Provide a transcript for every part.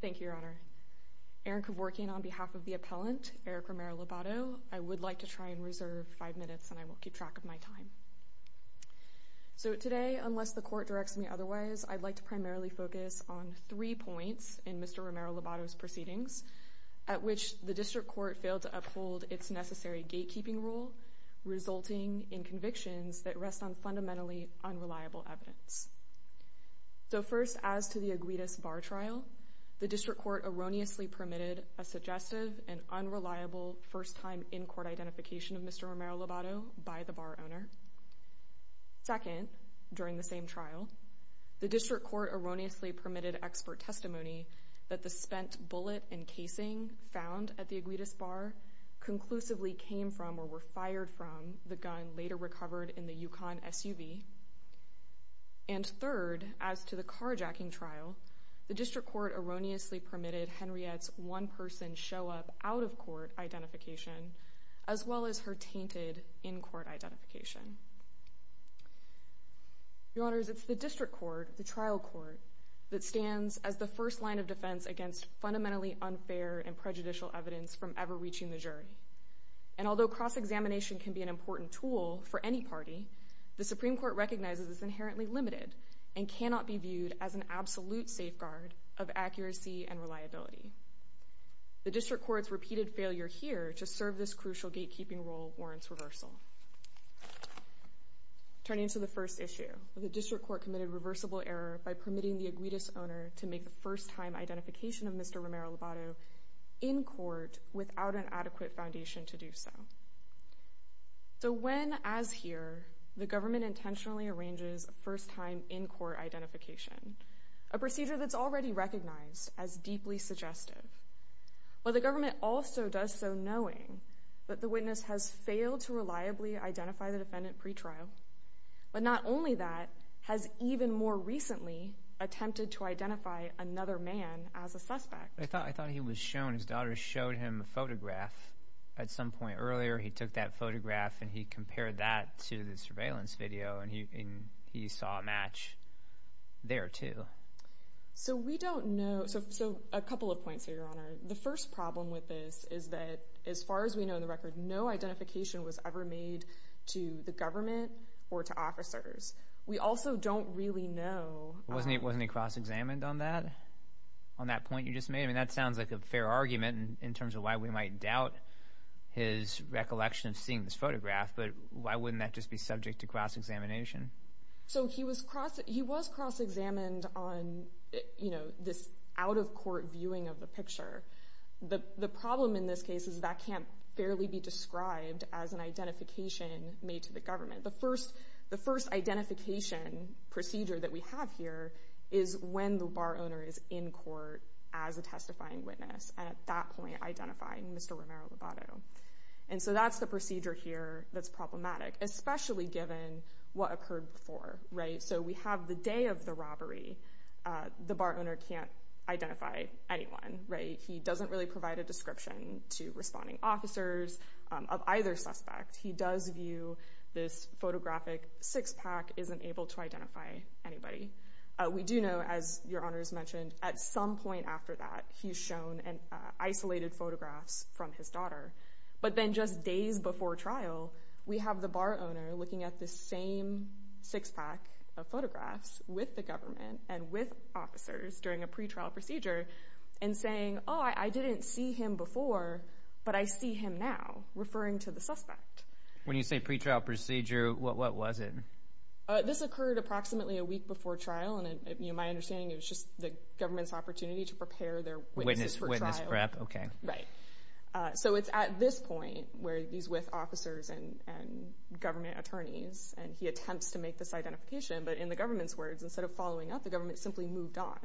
Thank you, Your Honor. Erin Kevorkian on behalf of the appellant, Eric Romero-Lobato. I would like to try and reserve five minutes, and I will keep track of my time. So today, unless the court directs me otherwise, I'd like to primarily focus on three points in Mr. Romero-Lobato's proceedings, at which the district court failed to uphold its necessary gatekeeping rule, resulting in convictions that rest on fundamentally unreliable evidence. So first, as to the Aguitas Bar trial, the district court erroneously permitted a suggestive and unreliable first-time in-court identification of Mr. Romero-Lobato by the bar owner. Second, during the same trial, the district court erroneously permitted expert testimony that the spent bullet and casing found at the Aguitas Bar conclusively came from or were fired from the gun later recovered in the Yukon SUV. And third, as to the carjacking trial, the district court erroneously permitted Henriette's one-person show-up out-of-court identification, as well as her tainted in-court identification. Your Honors, it's the district court, the trial court, that stands as the first line of defense against fundamentally unfair and prejudicial evidence from ever reaching the jury. And although cross-examination can be an important tool for any party, the Supreme Court recognizes it's inherently limited and cannot be viewed as an absolute safeguard of accuracy and reliability. The district court's repeated failure here to serve this crucial gatekeeping role warrants reversal. Turning to the first issue, the district court committed reversible error by permitting the Aguitas owner to make the first-time identification of Mr. Romero-Lobato in court without an adequate foundation to do so. So when, as here, the government intentionally arranges a first-time in-court identification, a procedure that's already recognized as deeply suggestive, while the government also does so knowing that the witness has failed to reliably identify the defendant pretrial, but not only that, has even more recently attempted to identify another man as a suspect. I thought he was shown, his daughter showed him a photograph at some point earlier. He took that photograph and he compared that to the surveillance video and he saw a match there, too. So we don't know, so a couple of points here, Your Honor. The first problem with this is that as far as we know in the record, no identification was ever made to the government or to officers. We also don't really know… …on that point you just made. I mean, that sounds like a fair argument in terms of why we might doubt his recollection of seeing this photograph, but why wouldn't that just be subject to cross-examination? So he was cross-examined on this out-of-court viewing of the picture. The problem in this case is that can't fairly be described as an identification made to the government. The first identification procedure that we have here is when the bar owner is in court as a testifying witness and at that point identifying Mr. Romero-Lobato. And so that's the procedure here that's problematic, especially given what occurred before. So we have the day of the robbery. The bar owner can't identify anyone. He doesn't really provide a description to responding officers of either suspect. He does view this photographic six-pack, isn't able to identify anybody. We do know, as Your Honors mentioned, at some point after that he's shown isolated photographs from his daughter. But then just days before trial, we have the bar owner looking at the same six-pack of photographs with the government and with officers during a pretrial procedure and saying, oh, I didn't see him before, but I see him now, referring to the suspect. When you say pretrial procedure, what was it? This occurred approximately a week before trial. My understanding is it was just the government's opportunity to prepare their witnesses for trial. Witness prep, okay. Right. So it's at this point where he's with officers and government attorneys, and he attempts to make this identification. But in the government's words, instead of following up, the government simply moved on.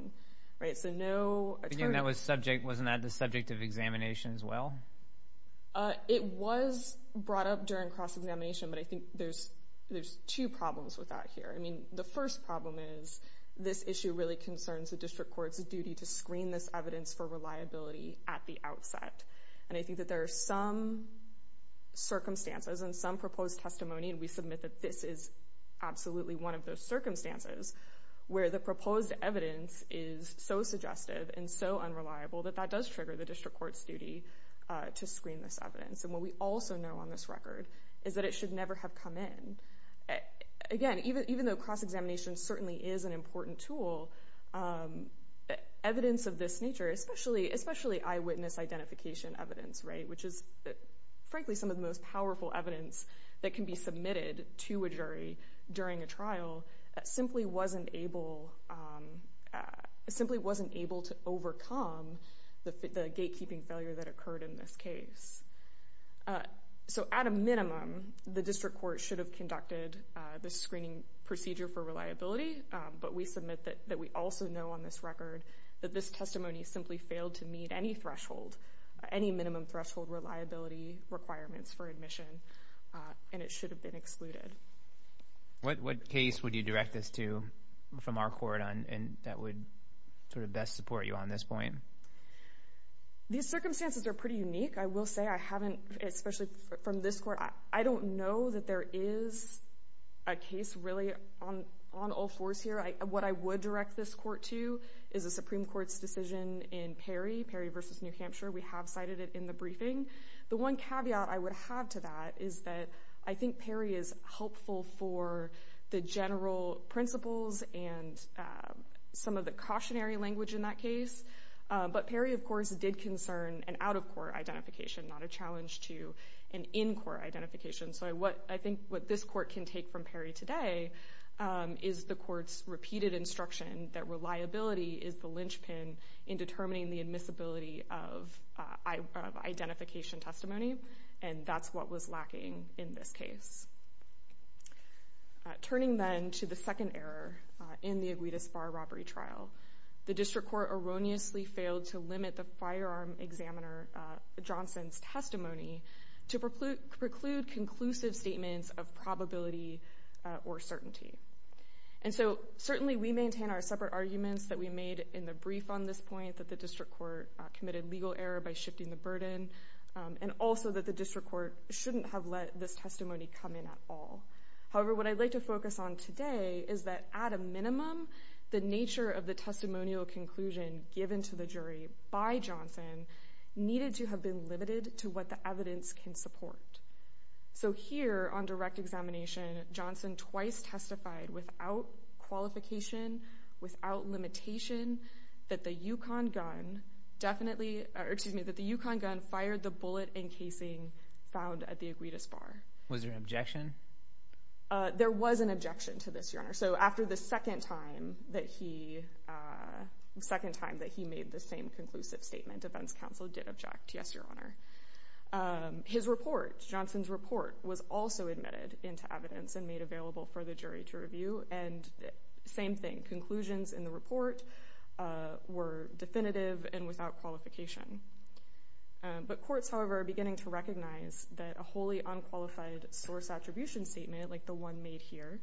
Wasn't that the subject of examination as well? It was brought up during cross-examination, but I think there's two problems with that here. I mean, the first problem is this issue really concerns the district court's duty to screen this evidence for reliability at the outset. And I think that there are some circumstances and some proposed testimony, and we submit that this is absolutely one of those circumstances where the proposed evidence is so suggestive and so unreliable that that does trigger the district court's duty to screen this evidence. And what we also know on this record is that it should never have come in. Again, even though cross-examination certainly is an important tool, evidence of this nature, especially eyewitness identification evidence, right, which is frankly some of the most powerful evidence that can be submitted to a jury during a trial, simply wasn't able to overcome the gatekeeping failure that occurred in this case. So at a minimum, the district court should have conducted the screening procedure for reliability, but we submit that we also know on this record that this testimony simply failed to meet any threshold, any minimum threshold reliability requirements for admission, and it should have been excluded. What case would you direct this to from our court that would sort of best support you on this point? These circumstances are pretty unique. I will say I haven't, especially from this court, I don't know that there is a case really on all fours here. What I would direct this court to is a Supreme Court's decision in Perry, Perry v. New Hampshire. We have cited it in the briefing. The one caveat I would have to that is that I think Perry is helpful for the general principles and some of the cautionary language in that case, but Perry, of course, did concern an out-of-court identification, not a challenge to an in-court identification. So I think what this court can take from Perry today is the court's repeated instruction that reliability is the linchpin in determining the admissibility of identification testimony, and that's what was lacking in this case. Turning then to the second error in the Aguitas Bar robbery trial, the district court erroneously failed to limit the firearm examiner Johnson's testimony to preclude conclusive statements of probability or certainty. And so certainly we maintain our separate arguments that we made in the brief on this point, that the district court committed legal error by shifting the burden, and also that the district court shouldn't have let this testimony come in at all. However, what I'd like to focus on today is that at a minimum, the nature of the testimonial conclusion given to the jury by Johnson needed to have been limited to what the evidence can support. So here on direct examination, Johnson twice testified without qualification, without limitation, that the Yukon gun fired the bullet encasing found at the Aguitas Bar. Was there an objection? There was an objection to this, Your Honor. So after the second time that he made the same conclusive statement, defense counsel did object, yes, Your Honor. His report, Johnson's report, was also admitted into evidence and made available for the jury to review. And same thing, conclusions in the report were definitive and without qualification. But courts, however, are beginning to recognize that a wholly unqualified source attribution statement, like the one made here,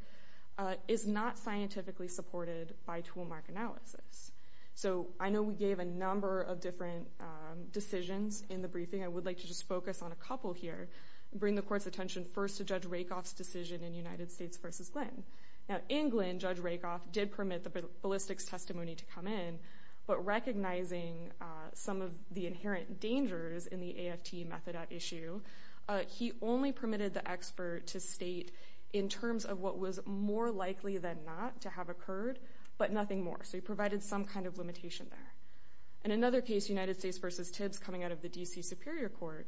is not scientifically supported by toolmark analysis. So I know we gave a number of different decisions in the briefing. I would like to just focus on a couple here and bring the court's attention first to Judge Rakoff's decision in United States v. Glenn. Now in Glenn, Judge Rakoff did permit the ballistics testimony to come in, but recognizing some of the inherent dangers in the AFT method at issue, he only permitted the expert to state in terms of what was more likely than not to have occurred, but nothing more. So he provided some kind of limitation there. In another case, United States v. Tibbs coming out of the D.C. Superior Court,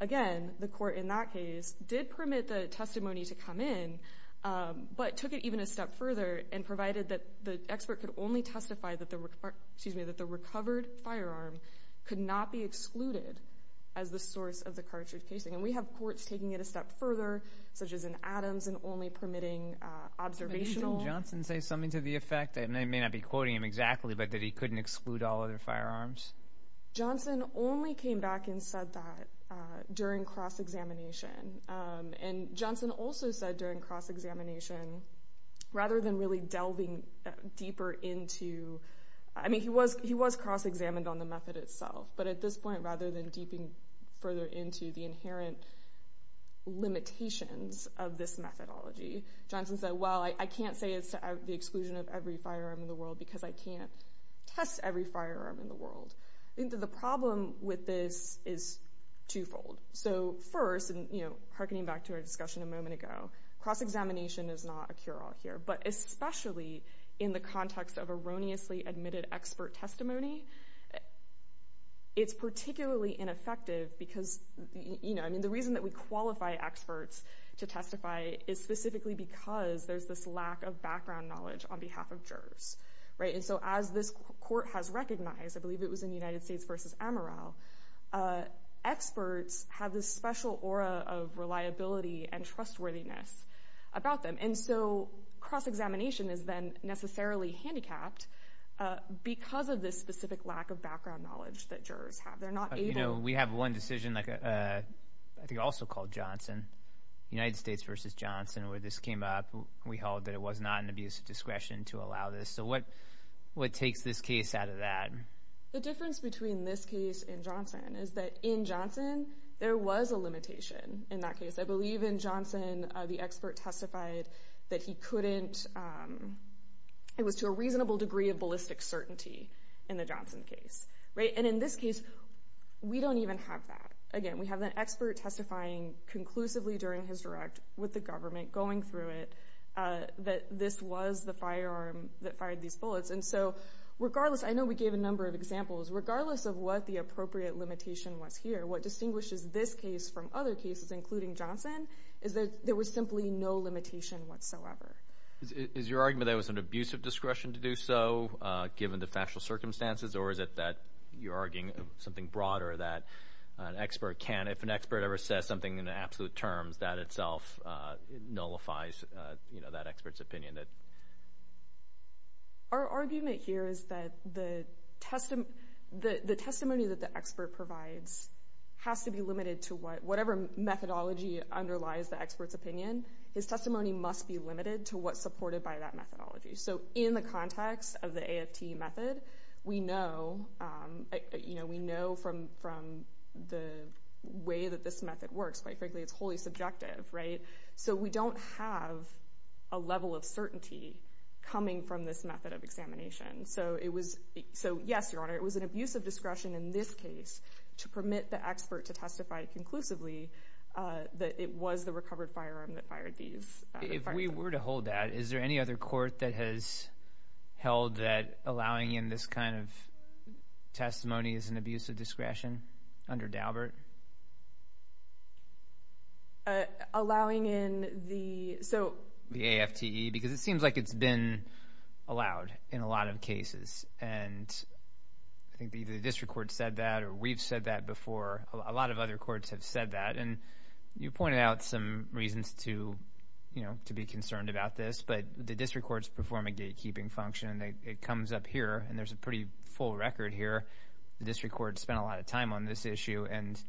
again, the court in that case did permit the testimony to come in, but took it even a step further and provided that the expert could only testify that the recovered firearm could not be excluded as the source of the cartridge casing. And we have courts taking it a step further, such as in Adams, and only permitting observational. Did Johnson say something to the effect, and I may not be quoting him exactly, but that he couldn't exclude all other firearms? Johnson only came back and said that during cross-examination. And Johnson also said during cross-examination, rather than really delving deeper into, I mean, he was cross-examined on the method itself, but at this point rather than deeping further into the inherent limitations of this methodology, Johnson said, well, I can't say it's the exclusion of every firearm in the world because I can't test every firearm in the world. The problem with this is twofold. So first, and hearkening back to our discussion a moment ago, cross-examination is not a cure-all here. But especially in the context of erroneously admitted expert testimony, it's particularly ineffective because the reason that we qualify experts to testify is specifically because there's this lack of background knowledge on behalf of jurors. And so as this court has recognized, I believe it was in United States v. Amaral, experts have this special aura of reliability and trustworthiness about them. And so cross-examination is then necessarily handicapped because of this specific lack of background knowledge that jurors have. They're not able— You know, we have one decision, I think also called Johnson, United States v. Johnson, where this came up, we held that it was not an abuse of discretion to allow this. So what takes this case out of that? The difference between this case and Johnson is that in Johnson, there was a limitation in that case. I believe in Johnson, the expert testified that he couldn't— it was to a reasonable degree of ballistic certainty in the Johnson case. And in this case, we don't even have that. Again, we have an expert testifying conclusively during his direct with the government going through it that this was the firearm that fired these bullets. And so regardless—I know we gave a number of examples. Regardless of what the appropriate limitation was here, what distinguishes this case from other cases, including Johnson, is that there was simply no limitation whatsoever. Is your argument that it was an abuse of discretion to do so, given the factual circumstances? Or is it that you're arguing something broader, that an expert can't— if an expert ever says something in absolute terms, that itself nullifies that expert's opinion? Our argument here is that the testimony that the expert provides has to be limited to what— whatever methodology underlies the expert's opinion, his testimony must be limited to what's supported by that methodology. So in the context of the AFT method, we know from the way that this method works, quite frankly, it's wholly subjective, right? So we don't have a level of certainty coming from this method of examination. So it was—so yes, Your Honor, it was an abuse of discretion in this case to permit the expert to testify conclusively that it was the recovered firearm that fired these— If we were to hold that, is there any other court that has held that allowing in this kind of testimony is an abuse of discretion under Daubert? Allowing in the— The AFTE, because it seems like it's been allowed in a lot of cases. And I think either the district court said that or we've said that before. A lot of other courts have said that. And you pointed out some reasons to be concerned about this, but the district courts perform a gatekeeping function. It comes up here, and there's a pretty full record here. The district court spent a lot of time on this issue, and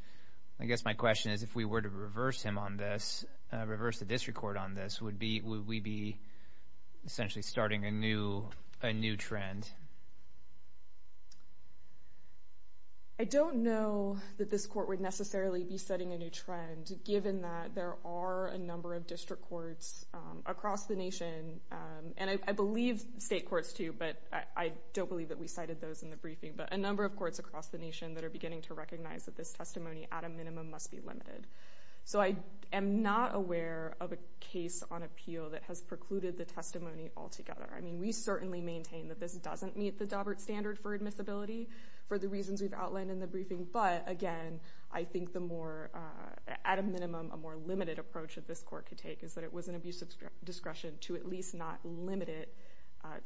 I guess my question is if we were to reverse him on this, reverse the district court on this, would we be essentially starting a new trend? I don't know that this court would necessarily be setting a new trend, given that there are a number of district courts across the nation, and I believe state courts, too, but I don't believe that we cited those in the briefing. But a number of courts across the nation that are beginning to recognize that this testimony, at a minimum, must be limited. So I am not aware of a case on appeal that has precluded the testimony altogether. I mean, we certainly maintain that this doesn't meet the Daubert standard for admissibility for the reasons we've outlined in the briefing. But, again, I think the more—at a minimum, a more limited approach that this court could take is that it was an abuse of discretion to at least not limit it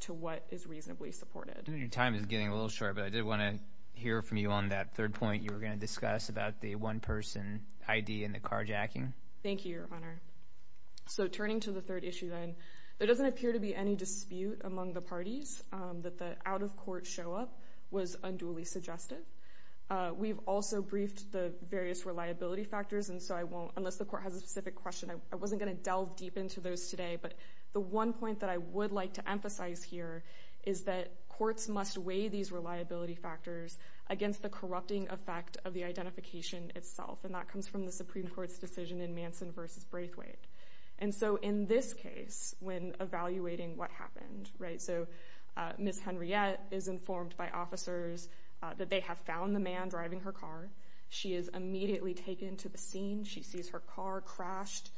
to what is reasonably supported. Your time is getting a little short, but I did want to hear from you on that third point you were going to discuss about the one-person ID and the carjacking. Thank you, Your Honor. So turning to the third issue, then, there doesn't appear to be any dispute among the parties that the out-of-court show-up was unduly suggestive. We've also briefed the various reliability factors, and so I won't—unless the court has a specific question. I wasn't going to delve deep into those today, but the one point that I would like to emphasize here is that courts must weigh these reliability factors against the corrupting effect of the identification itself, and that comes from the Supreme Court's decision in Manson v. Braithwaite. And so in this case, when evaluating what happened, right, so Ms. Henriette is informed by officers that they have found the man driving her car. She is immediately taken to the scene. She sees her car crashed,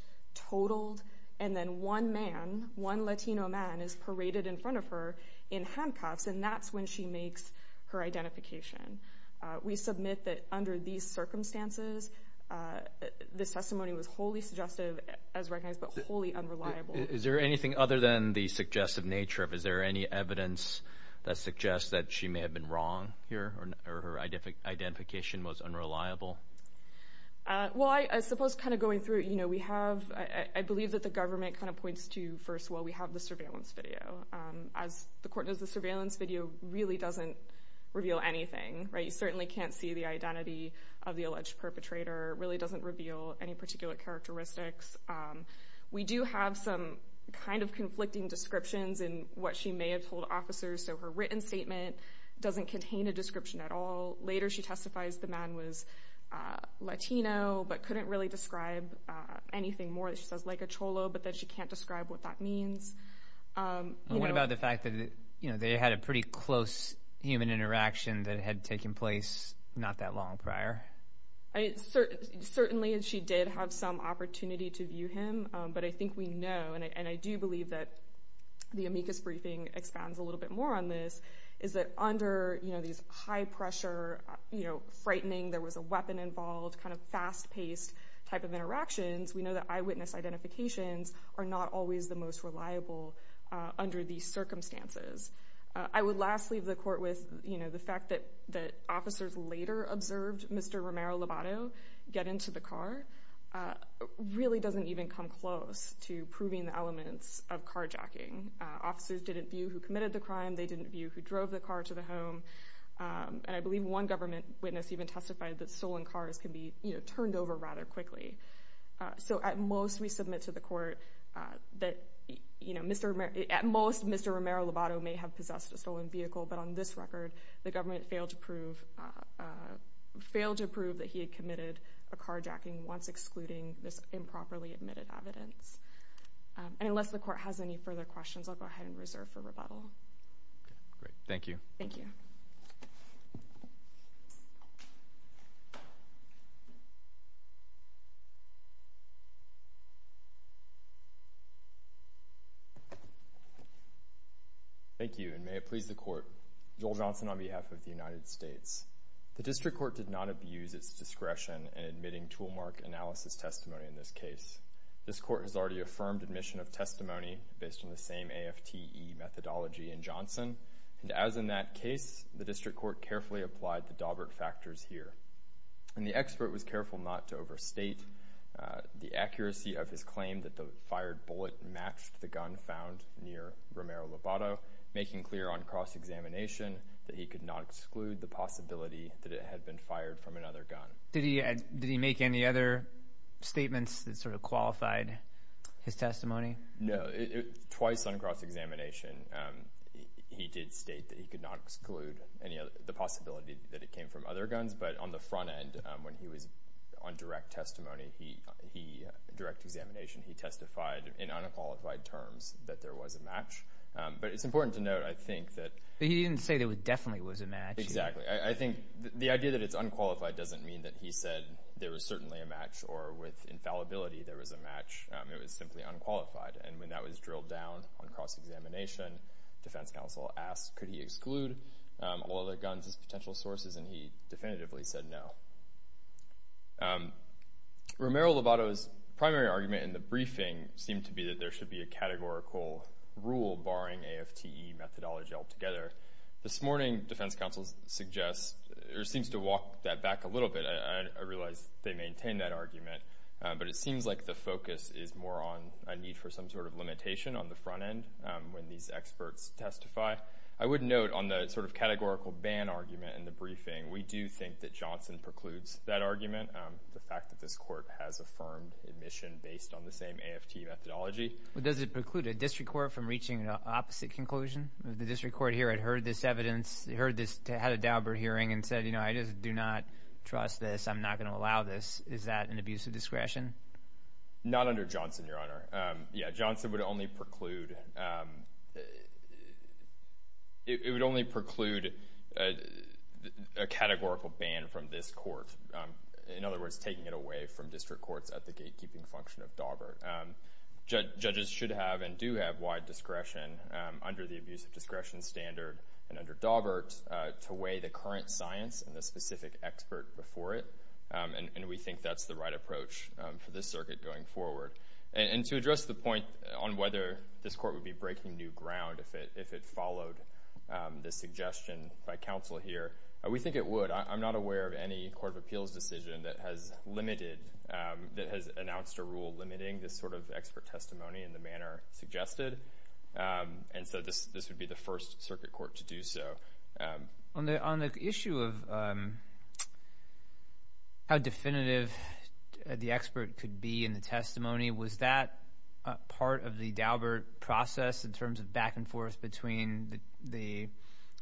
totaled, and then one man, one Latino man, is paraded in front of her in handcuffs, and that's when she makes her identification. We submit that under these circumstances, this testimony was wholly suggestive as recognized, but wholly unreliable. Is there anything other than the suggestive nature? Is there any evidence that suggests that she may have been wrong here or her identification was unreliable? Well, I suppose kind of going through it, you know, we have, I believe that the government kind of points to, first of all, we have the surveillance video. As the court knows, the surveillance video really doesn't reveal anything, right? You certainly can't see the identity of the alleged perpetrator. It really doesn't reveal any particular characteristics. We do have some kind of conflicting descriptions in what she may have told officers, so her written statement doesn't contain a description at all. Later she testifies the man was Latino but couldn't really describe anything more. She says, like a cholo, but then she can't describe what that means. What about the fact that they had a pretty close human interaction that had taken place not that long prior? Certainly she did have some opportunity to view him, but I think we know, and I do believe that the amicus briefing expands a little bit more on this, is that under these high-pressure, frightening, there was a weapon involved, kind of fast-paced type of interactions, we know that eyewitness identifications are not always the most reliable under these circumstances. I would last leave the court with the fact that officers later observed Mr. Romero-Lobato get into the car really doesn't even come close to proving the elements of carjacking. Officers didn't view who committed the crime, they didn't view who drove the car to the home, and I believe one government witness even testified that stolen cars can be turned over rather quickly. So at most we submit to the court that at most Mr. Romero-Lobato may have possessed a stolen vehicle, but on this record the government failed to prove that he had committed a carjacking once excluding this improperly admitted evidence. And unless the court has any further questions, I'll go ahead and reserve for rebuttal. Okay, great. Thank you. Thank you. Thank you, and may it please the court. Joel Johnson on behalf of the United States. The district court did not abuse its discretion in admitting toolmark analysis testimony in this case. This court has already affirmed admission of testimony based on the same AFTE methodology in Johnson. And as in that case, the district court carefully applied the Daubert factors here. And the expert was careful not to overstate the accuracy of his claim that the fired bullet matched the gun found near Romero-Lobato, making clear on cross-examination that he could not exclude the possibility that it had been fired from another gun. Did he make any other statements that sort of qualified his testimony? No. Twice on cross-examination he did state that he could not exclude the possibility that it came from other guns. But on the front end, when he was on direct testimony, direct examination, he testified in unqualified terms that there was a match. But it's important to note, I think, that he didn't say there definitely was a match. Exactly. I think the idea that it's unqualified doesn't mean that he said there was certainly a match or with infallibility there was a match. It was simply unqualified. And when that was drilled down on cross-examination, defense counsel asked, could he exclude all other guns as potential sources, and he definitively said no. Romero-Lobato's primary argument in the briefing seemed to be that there should be a categorical rule barring AFTE methodology altogether. This morning, defense counsel suggests or seems to walk that back a little bit. I realize they maintain that argument, but it seems like the focus is more on a need for some sort of limitation on the front end when these experts testify. I would note on the sort of categorical ban argument in the briefing, we do think that Johnson precludes that argument, the fact that this court has affirmed admission based on the same AFTE methodology. Does it preclude a district court from reaching an opposite conclusion? The district court here had heard this evidence, had a Daubert hearing and said, you know, I just do not trust this. I'm not going to allow this. Is that an abuse of discretion? Not under Johnson, Your Honor. Yeah, Johnson would only preclude a categorical ban from this court. In other words, taking it away from district courts at the gatekeeping function of Daubert. Judges should have and do have wide discretion under the abuse of discretion standard and under Daubert to weigh the current science and the specific expert before it, and we think that's the right approach for this circuit going forward. And to address the point on whether this court would be breaking new ground if it followed the suggestion by counsel here, we think it would. I'm not aware of any court of appeals decision that has limited, that has announced a rule limiting this sort of expert testimony in the manner suggested, and so this would be the first circuit court to do so. On the issue of how definitive the expert could be in the testimony, was that part of the Daubert process in terms of back and forth between the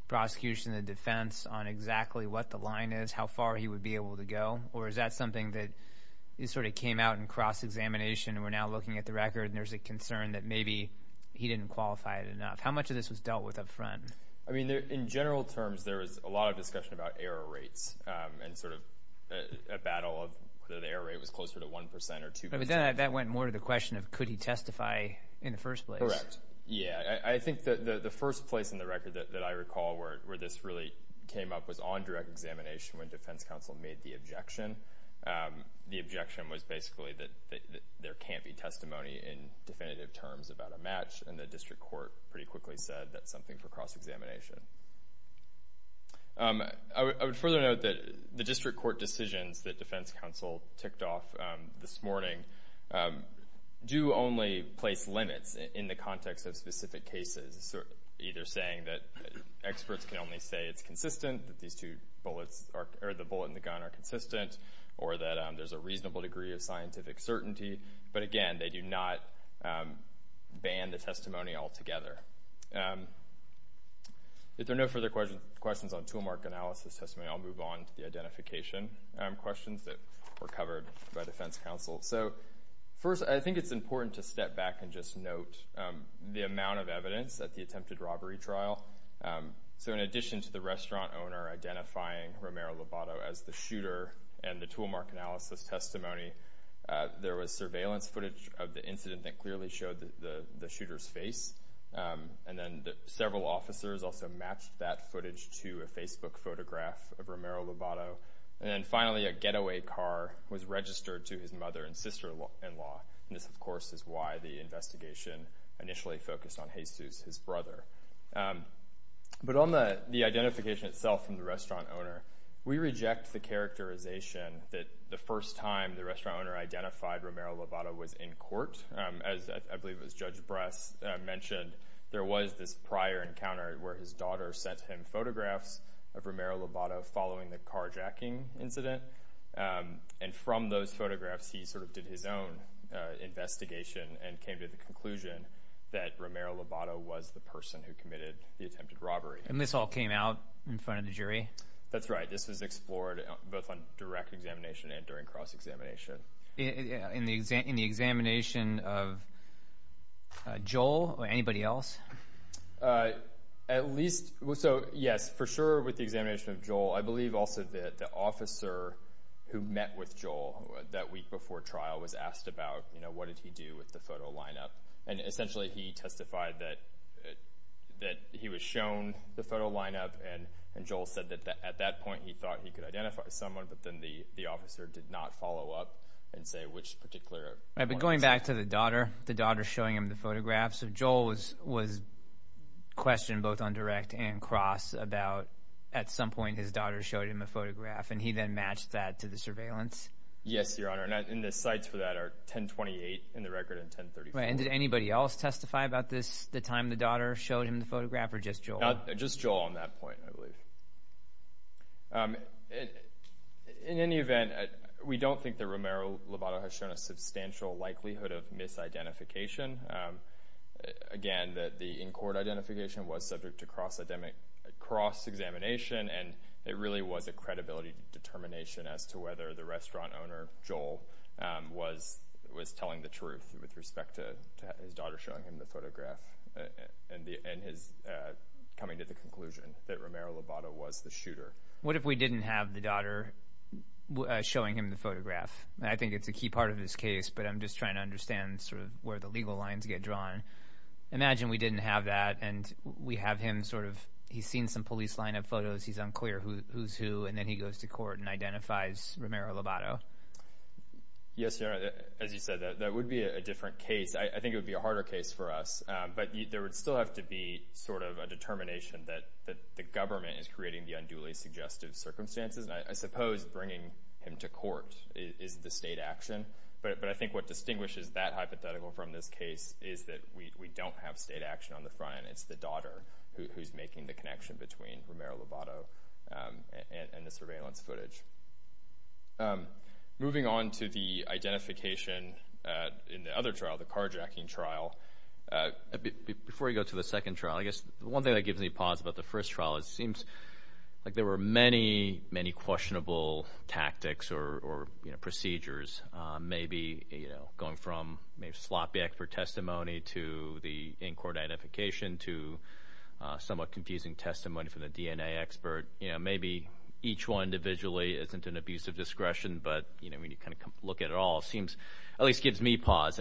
prosecution and the defense on exactly what the line is, how far he would be able to go, or is that something that sort of came out in cross-examination and we're now looking at the record and there's a concern that maybe he didn't qualify it enough? How much of this was dealt with up front? I mean, in general terms, there was a lot of discussion about error rates and sort of a battle of whether the error rate was closer to 1% or 2%. But then that went more to the question of could he testify in the first place? Correct. Yeah. I think that the first place in the record that I recall where this really came up was on direct examination when defense counsel made the objection. The objection was basically that there can't be testimony in definitive terms about a match, and the district court pretty quickly said that's something for cross-examination. I would further note that the district court decisions that defense counsel ticked off this morning do only place limits in the context of specific cases, either saying that experts can only say it's consistent, that the bullet and the gun are consistent, or that there's a reasonable degree of scientific certainty. But again, they do not ban the testimony altogether. If there are no further questions on toolmark analysis testimony, I'll move on to the identification questions that were covered by defense counsel. First, I think it's important to step back and just note the amount of evidence at the attempted robbery trial. In addition to the restaurant owner identifying Romero Lobato as the shooter and the toolmark analysis testimony, there was surveillance footage of the incident that clearly showed the shooter's face. And then several officers also matched that footage to a Facebook photograph of Romero Lobato. And then finally, a getaway car was registered to his mother and sister-in-law. And this, of course, is why the investigation initially focused on Jesus, his brother. But on the identification itself from the restaurant owner, we reject the characterization that the first time the restaurant owner identified Romero Lobato was in court, as I believe it was Judge Brass mentioned, there was this prior encounter where his daughter sent him photographs of Romero Lobato following the carjacking incident. And from those photographs, he sort of did his own investigation and came to the conclusion that Romero Lobato was the person who committed the attempted robbery. And this all came out in front of the jury? That's right. This was explored both on direct examination and during cross-examination. In the examination of Joel or anybody else? At least, so yes, for sure with the examination of Joel, I believe also that the officer who met with Joel that week before trial was asked about, you know, what did he do with the photo lineup. And essentially, he testified that he was shown the photo lineup and Joel said that at that point he thought he could identify someone, but then the officer did not follow up and say which particular one. But going back to the daughter, the daughter showing him the photographs, Joel was questioned both on direct and cross about at some point his daughter showed him a photograph and he then matched that to the surveillance? Yes, Your Honor, and the sites for that are 1028 in the record and 1034. And did anybody else testify about this the time the daughter showed him the photograph or just Joel? Just Joel on that point, I believe. In any event, we don't think that Romero-Lobato has shown a substantial likelihood of misidentification. Again, the in-court identification was subject to cross-examination and it really was a credibility determination as to whether the restaurant owner, Joel, was telling the truth with respect to his daughter showing him the photograph and his coming to the conclusion that Romero-Lobato was the shooter. What if we didn't have the daughter showing him the photograph? I think it's a key part of this case, but I'm just trying to understand sort of where the legal lines get drawn. Imagine we didn't have that and we have him sort of, he's seen some police lineup photos, he's unclear who's who, and then he goes to court and identifies Romero-Lobato. Yes, Your Honor, as you said, that would be a different case. I think it would be a harder case for us, but there would still have to be sort of a determination that the government is creating the unduly suggestive circumstances. I suppose bringing him to court is the state action, but I think what distinguishes that hypothetical from this case is that we don't have state action on the front end. It's the daughter who's making the connection between Romero-Lobato and the surveillance footage. Moving on to the identification in the other trial, the carjacking trial, before we go to the second trial, I guess one thing that gives me pause about the first trial is it seems like there were many, many questionable tactics or procedures, maybe going from maybe sloppy expert testimony to the in-court identification to somewhat confusing testimony from the DNA expert. Maybe each one individually isn't an abuse of discretion, but when you kind of look at it all, it at least gives me pause.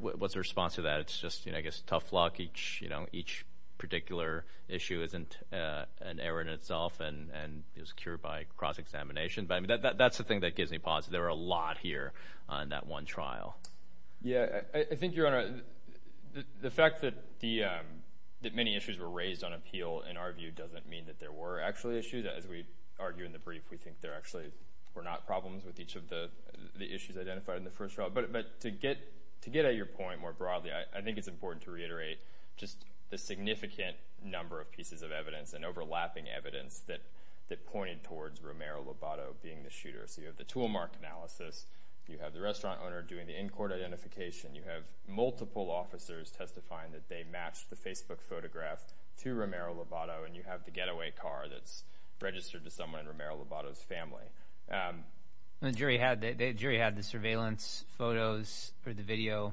What's the response to that? It's just, I guess, tough luck. Each particular issue isn't an error in itself and is cured by cross-examination. That's the thing that gives me pause. There were a lot here on that one trial. Yes, I think, Your Honor, the fact that many issues were raised on appeal, in our view, doesn't mean that there were actually issues. As we argue in the brief, we think there actually were not problems with each of the issues identified in the first trial. But to get at your point more broadly, I think it's important to reiterate just the significant number of pieces of evidence and overlapping evidence that pointed towards Romero-Lobato being the shooter. So you have the tool mark analysis, you have the restaurant owner doing the in-court identification, you have multiple officers testifying that they matched the Facebook photograph to Romero-Lobato, and you have the getaway car that's registered to someone in Romero-Lobato's family. The jury had the surveillance photos or the video,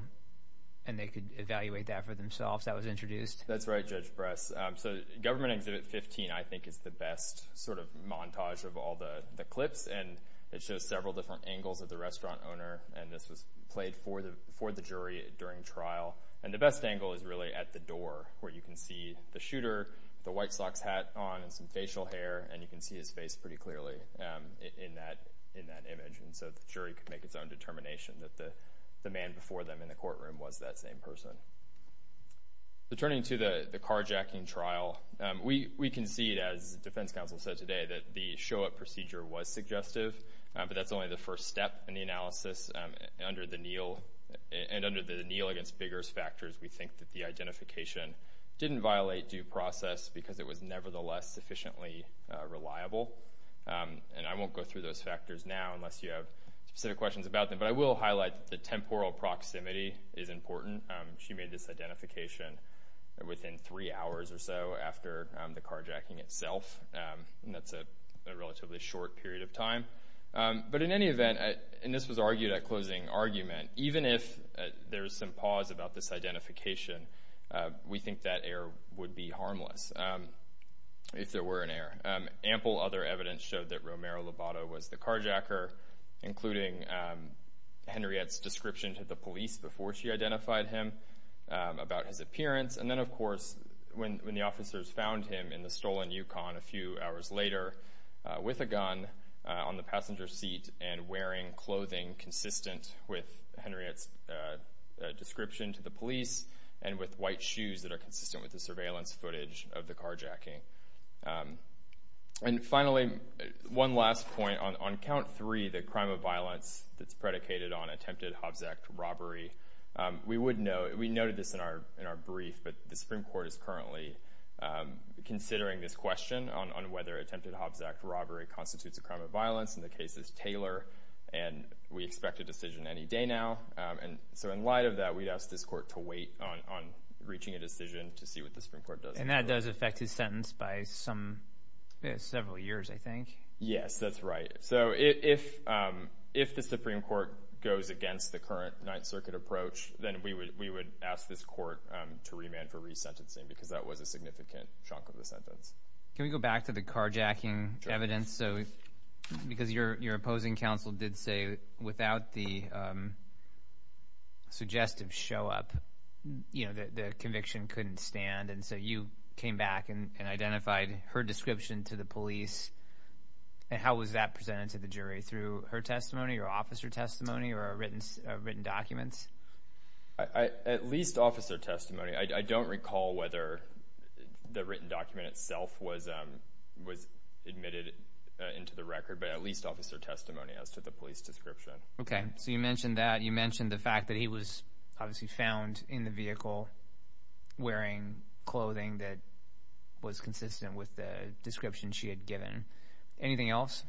and they could evaluate that for themselves. That was introduced. That's right, Judge Bress. So Government Exhibit 15, I think, is the best sort of montage of all the clips, and it shows several different angles of the restaurant owner, and this was played for the jury during trial. And the best angle is really at the door where you can see the shooter with a white socks hat on and some facial hair, and you can see his face pretty clearly in that image. And so the jury could make its own determination that the man before them in the courtroom was that same person. So turning to the carjacking trial, we concede, as the defense counsel said today, that the show-up procedure was suggestive, but that's only the first step in the analysis. Under the Neal against Biggers factors, we think that the identification didn't violate due process because it was nevertheless sufficiently reliable. And I won't go through those factors now unless you have specific questions about them, but I will highlight that the temporal proximity is important. She made this identification within three hours or so after the carjacking itself, and that's a relatively short period of time. But in any event, and this was argued at closing argument, even if there's some pause about this identification, we think that error would be harmless if there were an error. Ample other evidence showed that Romero Lobato was the carjacker, including Henriette's description to the police before she identified him about his appearance. And then, of course, when the officers found him in the stolen Yukon a few hours later with a gun on the passenger seat and wearing clothing consistent with Henriette's description to the police and with white shoes that are consistent with the surveillance footage of the carjacking. And finally, one last point. On count three, the crime of violence that's predicated on attempted Hobbs Act robbery, we noted this in our brief, but the Supreme Court is currently considering this question on whether attempted Hobbs Act robbery constitutes a crime of violence. And the case is Taylor, and we expect a decision any day now. And so in light of that, we'd ask this court to wait on reaching a decision to see what the Supreme Court does. And that does affect his sentence by several years, I think. Yes, that's right. So if the Supreme Court goes against the current Ninth Circuit approach, then we would ask this court to remand for resentencing because that was a significant chunk of the sentence. Can we go back to the carjacking evidence? Because your opposing counsel did say without the suggestive show-up, the conviction couldn't stand. And so you came back and identified her description to the police. And how was that presented to the jury, through her testimony or officer testimony or written documents? At least officer testimony. I don't recall whether the written document itself was admitted into the record, but at least officer testimony as to the police description. Okay. So you mentioned that. You mentioned the fact that he was obviously found in the vehicle wearing clothing that was consistent with the description she had given. Anything else?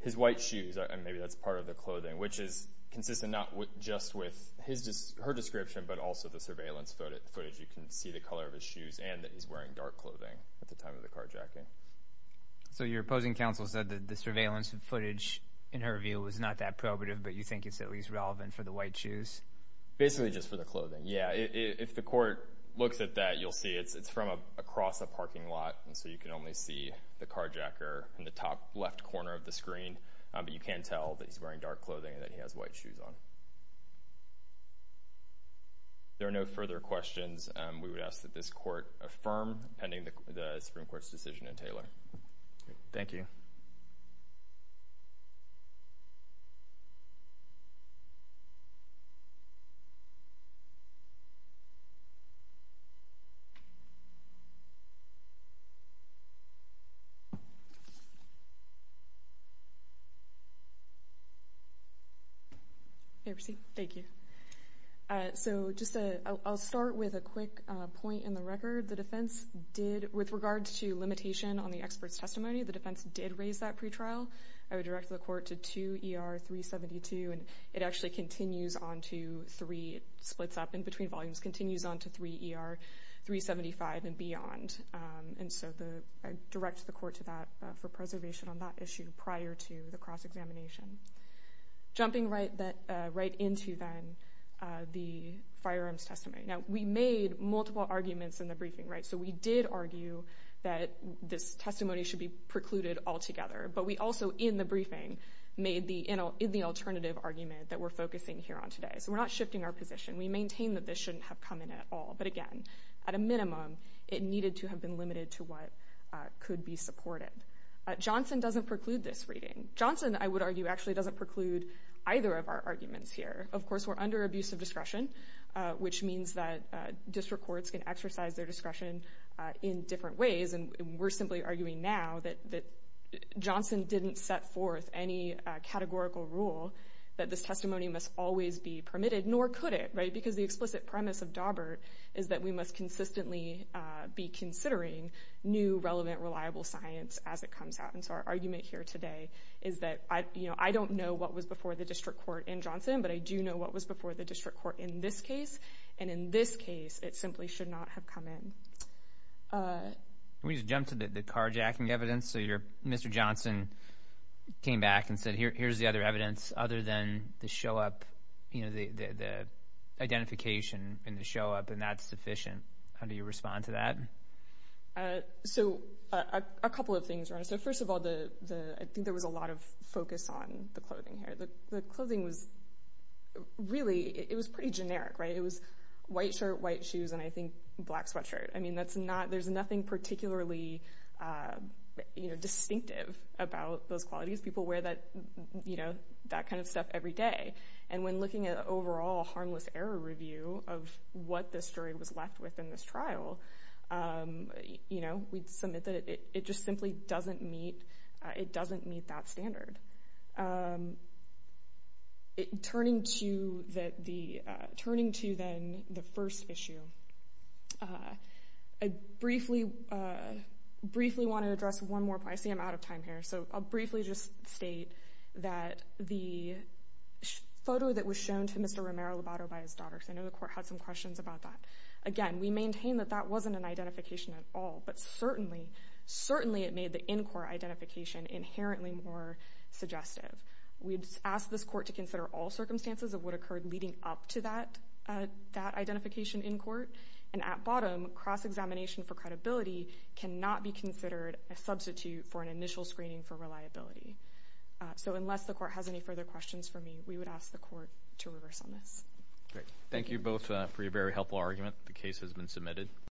His white shoes, and maybe that's part of the clothing, which is consistent not just with her description but also the surveillance footage. You can see the color of his shoes and that he's wearing dark clothing at the time of the carjacking. So your opposing counsel said that the surveillance footage, in her view, was not that probative, but you think it's at least relevant for the white shoes? Basically just for the clothing, yeah. If the court looks at that, you'll see it's from across a parking lot, and so you can only see the carjacker in the top left corner of the screen, but you can tell that he's wearing dark clothing and that he has white shoes on. If there are no further questions, we would ask that this court affirm pending the Supreme Court's decision in Taylor. Thank you. Thank you. So I'll start with a quick point in the record. The defense did, with regards to limitation on the expert's testimony, the defense did raise that pretrial. I would direct the court to 2 ER 372, and it actually continues on to 3, splits up in between volumes, continues on to 3 ER 375 and beyond. And so I direct the court to that for preservation on that issue prior to the cross-examination. Jumping right into, then, the firearms testimony. Now, we made multiple arguments in the briefing, right? So we did argue that this testimony should be precluded altogether, but we also, in the briefing, made the alternative argument that we're focusing here on today. So we're not shifting our position. We maintain that this shouldn't have come in at all. But, again, at a minimum, it needed to have been limited to what could be supported. Johnson doesn't preclude this reading. Johnson, I would argue, actually doesn't preclude either of our arguments here. Of course, we're under abuse of discretion, which means that district courts can exercise their discretion in different ways, and we're simply arguing now that Johnson didn't set forth any categorical rule that this testimony must always be permitted, nor could it, right? Because the explicit premise of Dawbert is that we must consistently be considering new, relevant, reliable science as it comes out. And so our argument here today is that I don't know what was before the district court in Johnson, but I do know what was before the district court in this case, and in this case, it simply should not have come in. Can we just jump to the carjacking evidence? So Mr. Johnson came back and said, here's the other evidence other than the identification and the show-up, and that's sufficient. How do you respond to that? So a couple of things. First of all, I think there was a lot of focus on the clothing here. The clothing was really pretty generic, right? White shirt, white shoes, and I think black sweatshirt. I mean, there's nothing particularly distinctive about those qualities. People wear that kind of stuff every day. And when looking at an overall harmless error review of what this jury was left with in this trial, we'd submit that it just simply doesn't meet that standard. Turning to then the first issue, I briefly want to address one more point. I see I'm out of time here, so I'll briefly just state that the photo that was shown to Mr. Romero-Lobato by his daughter, because I know the court had some questions about that. Again, we maintain that that wasn't an identification at all, but certainly it made the in-court identification inherently more suggestive. We'd ask this court to consider all circumstances of what occurred leading up to that identification in court, and at bottom, cross-examination for credibility cannot be considered a substitute for an initial screening for reliability. So unless the court has any further questions for me, we would ask the court to reverse on this. Thank you both for your very helpful argument. The case has been submitted.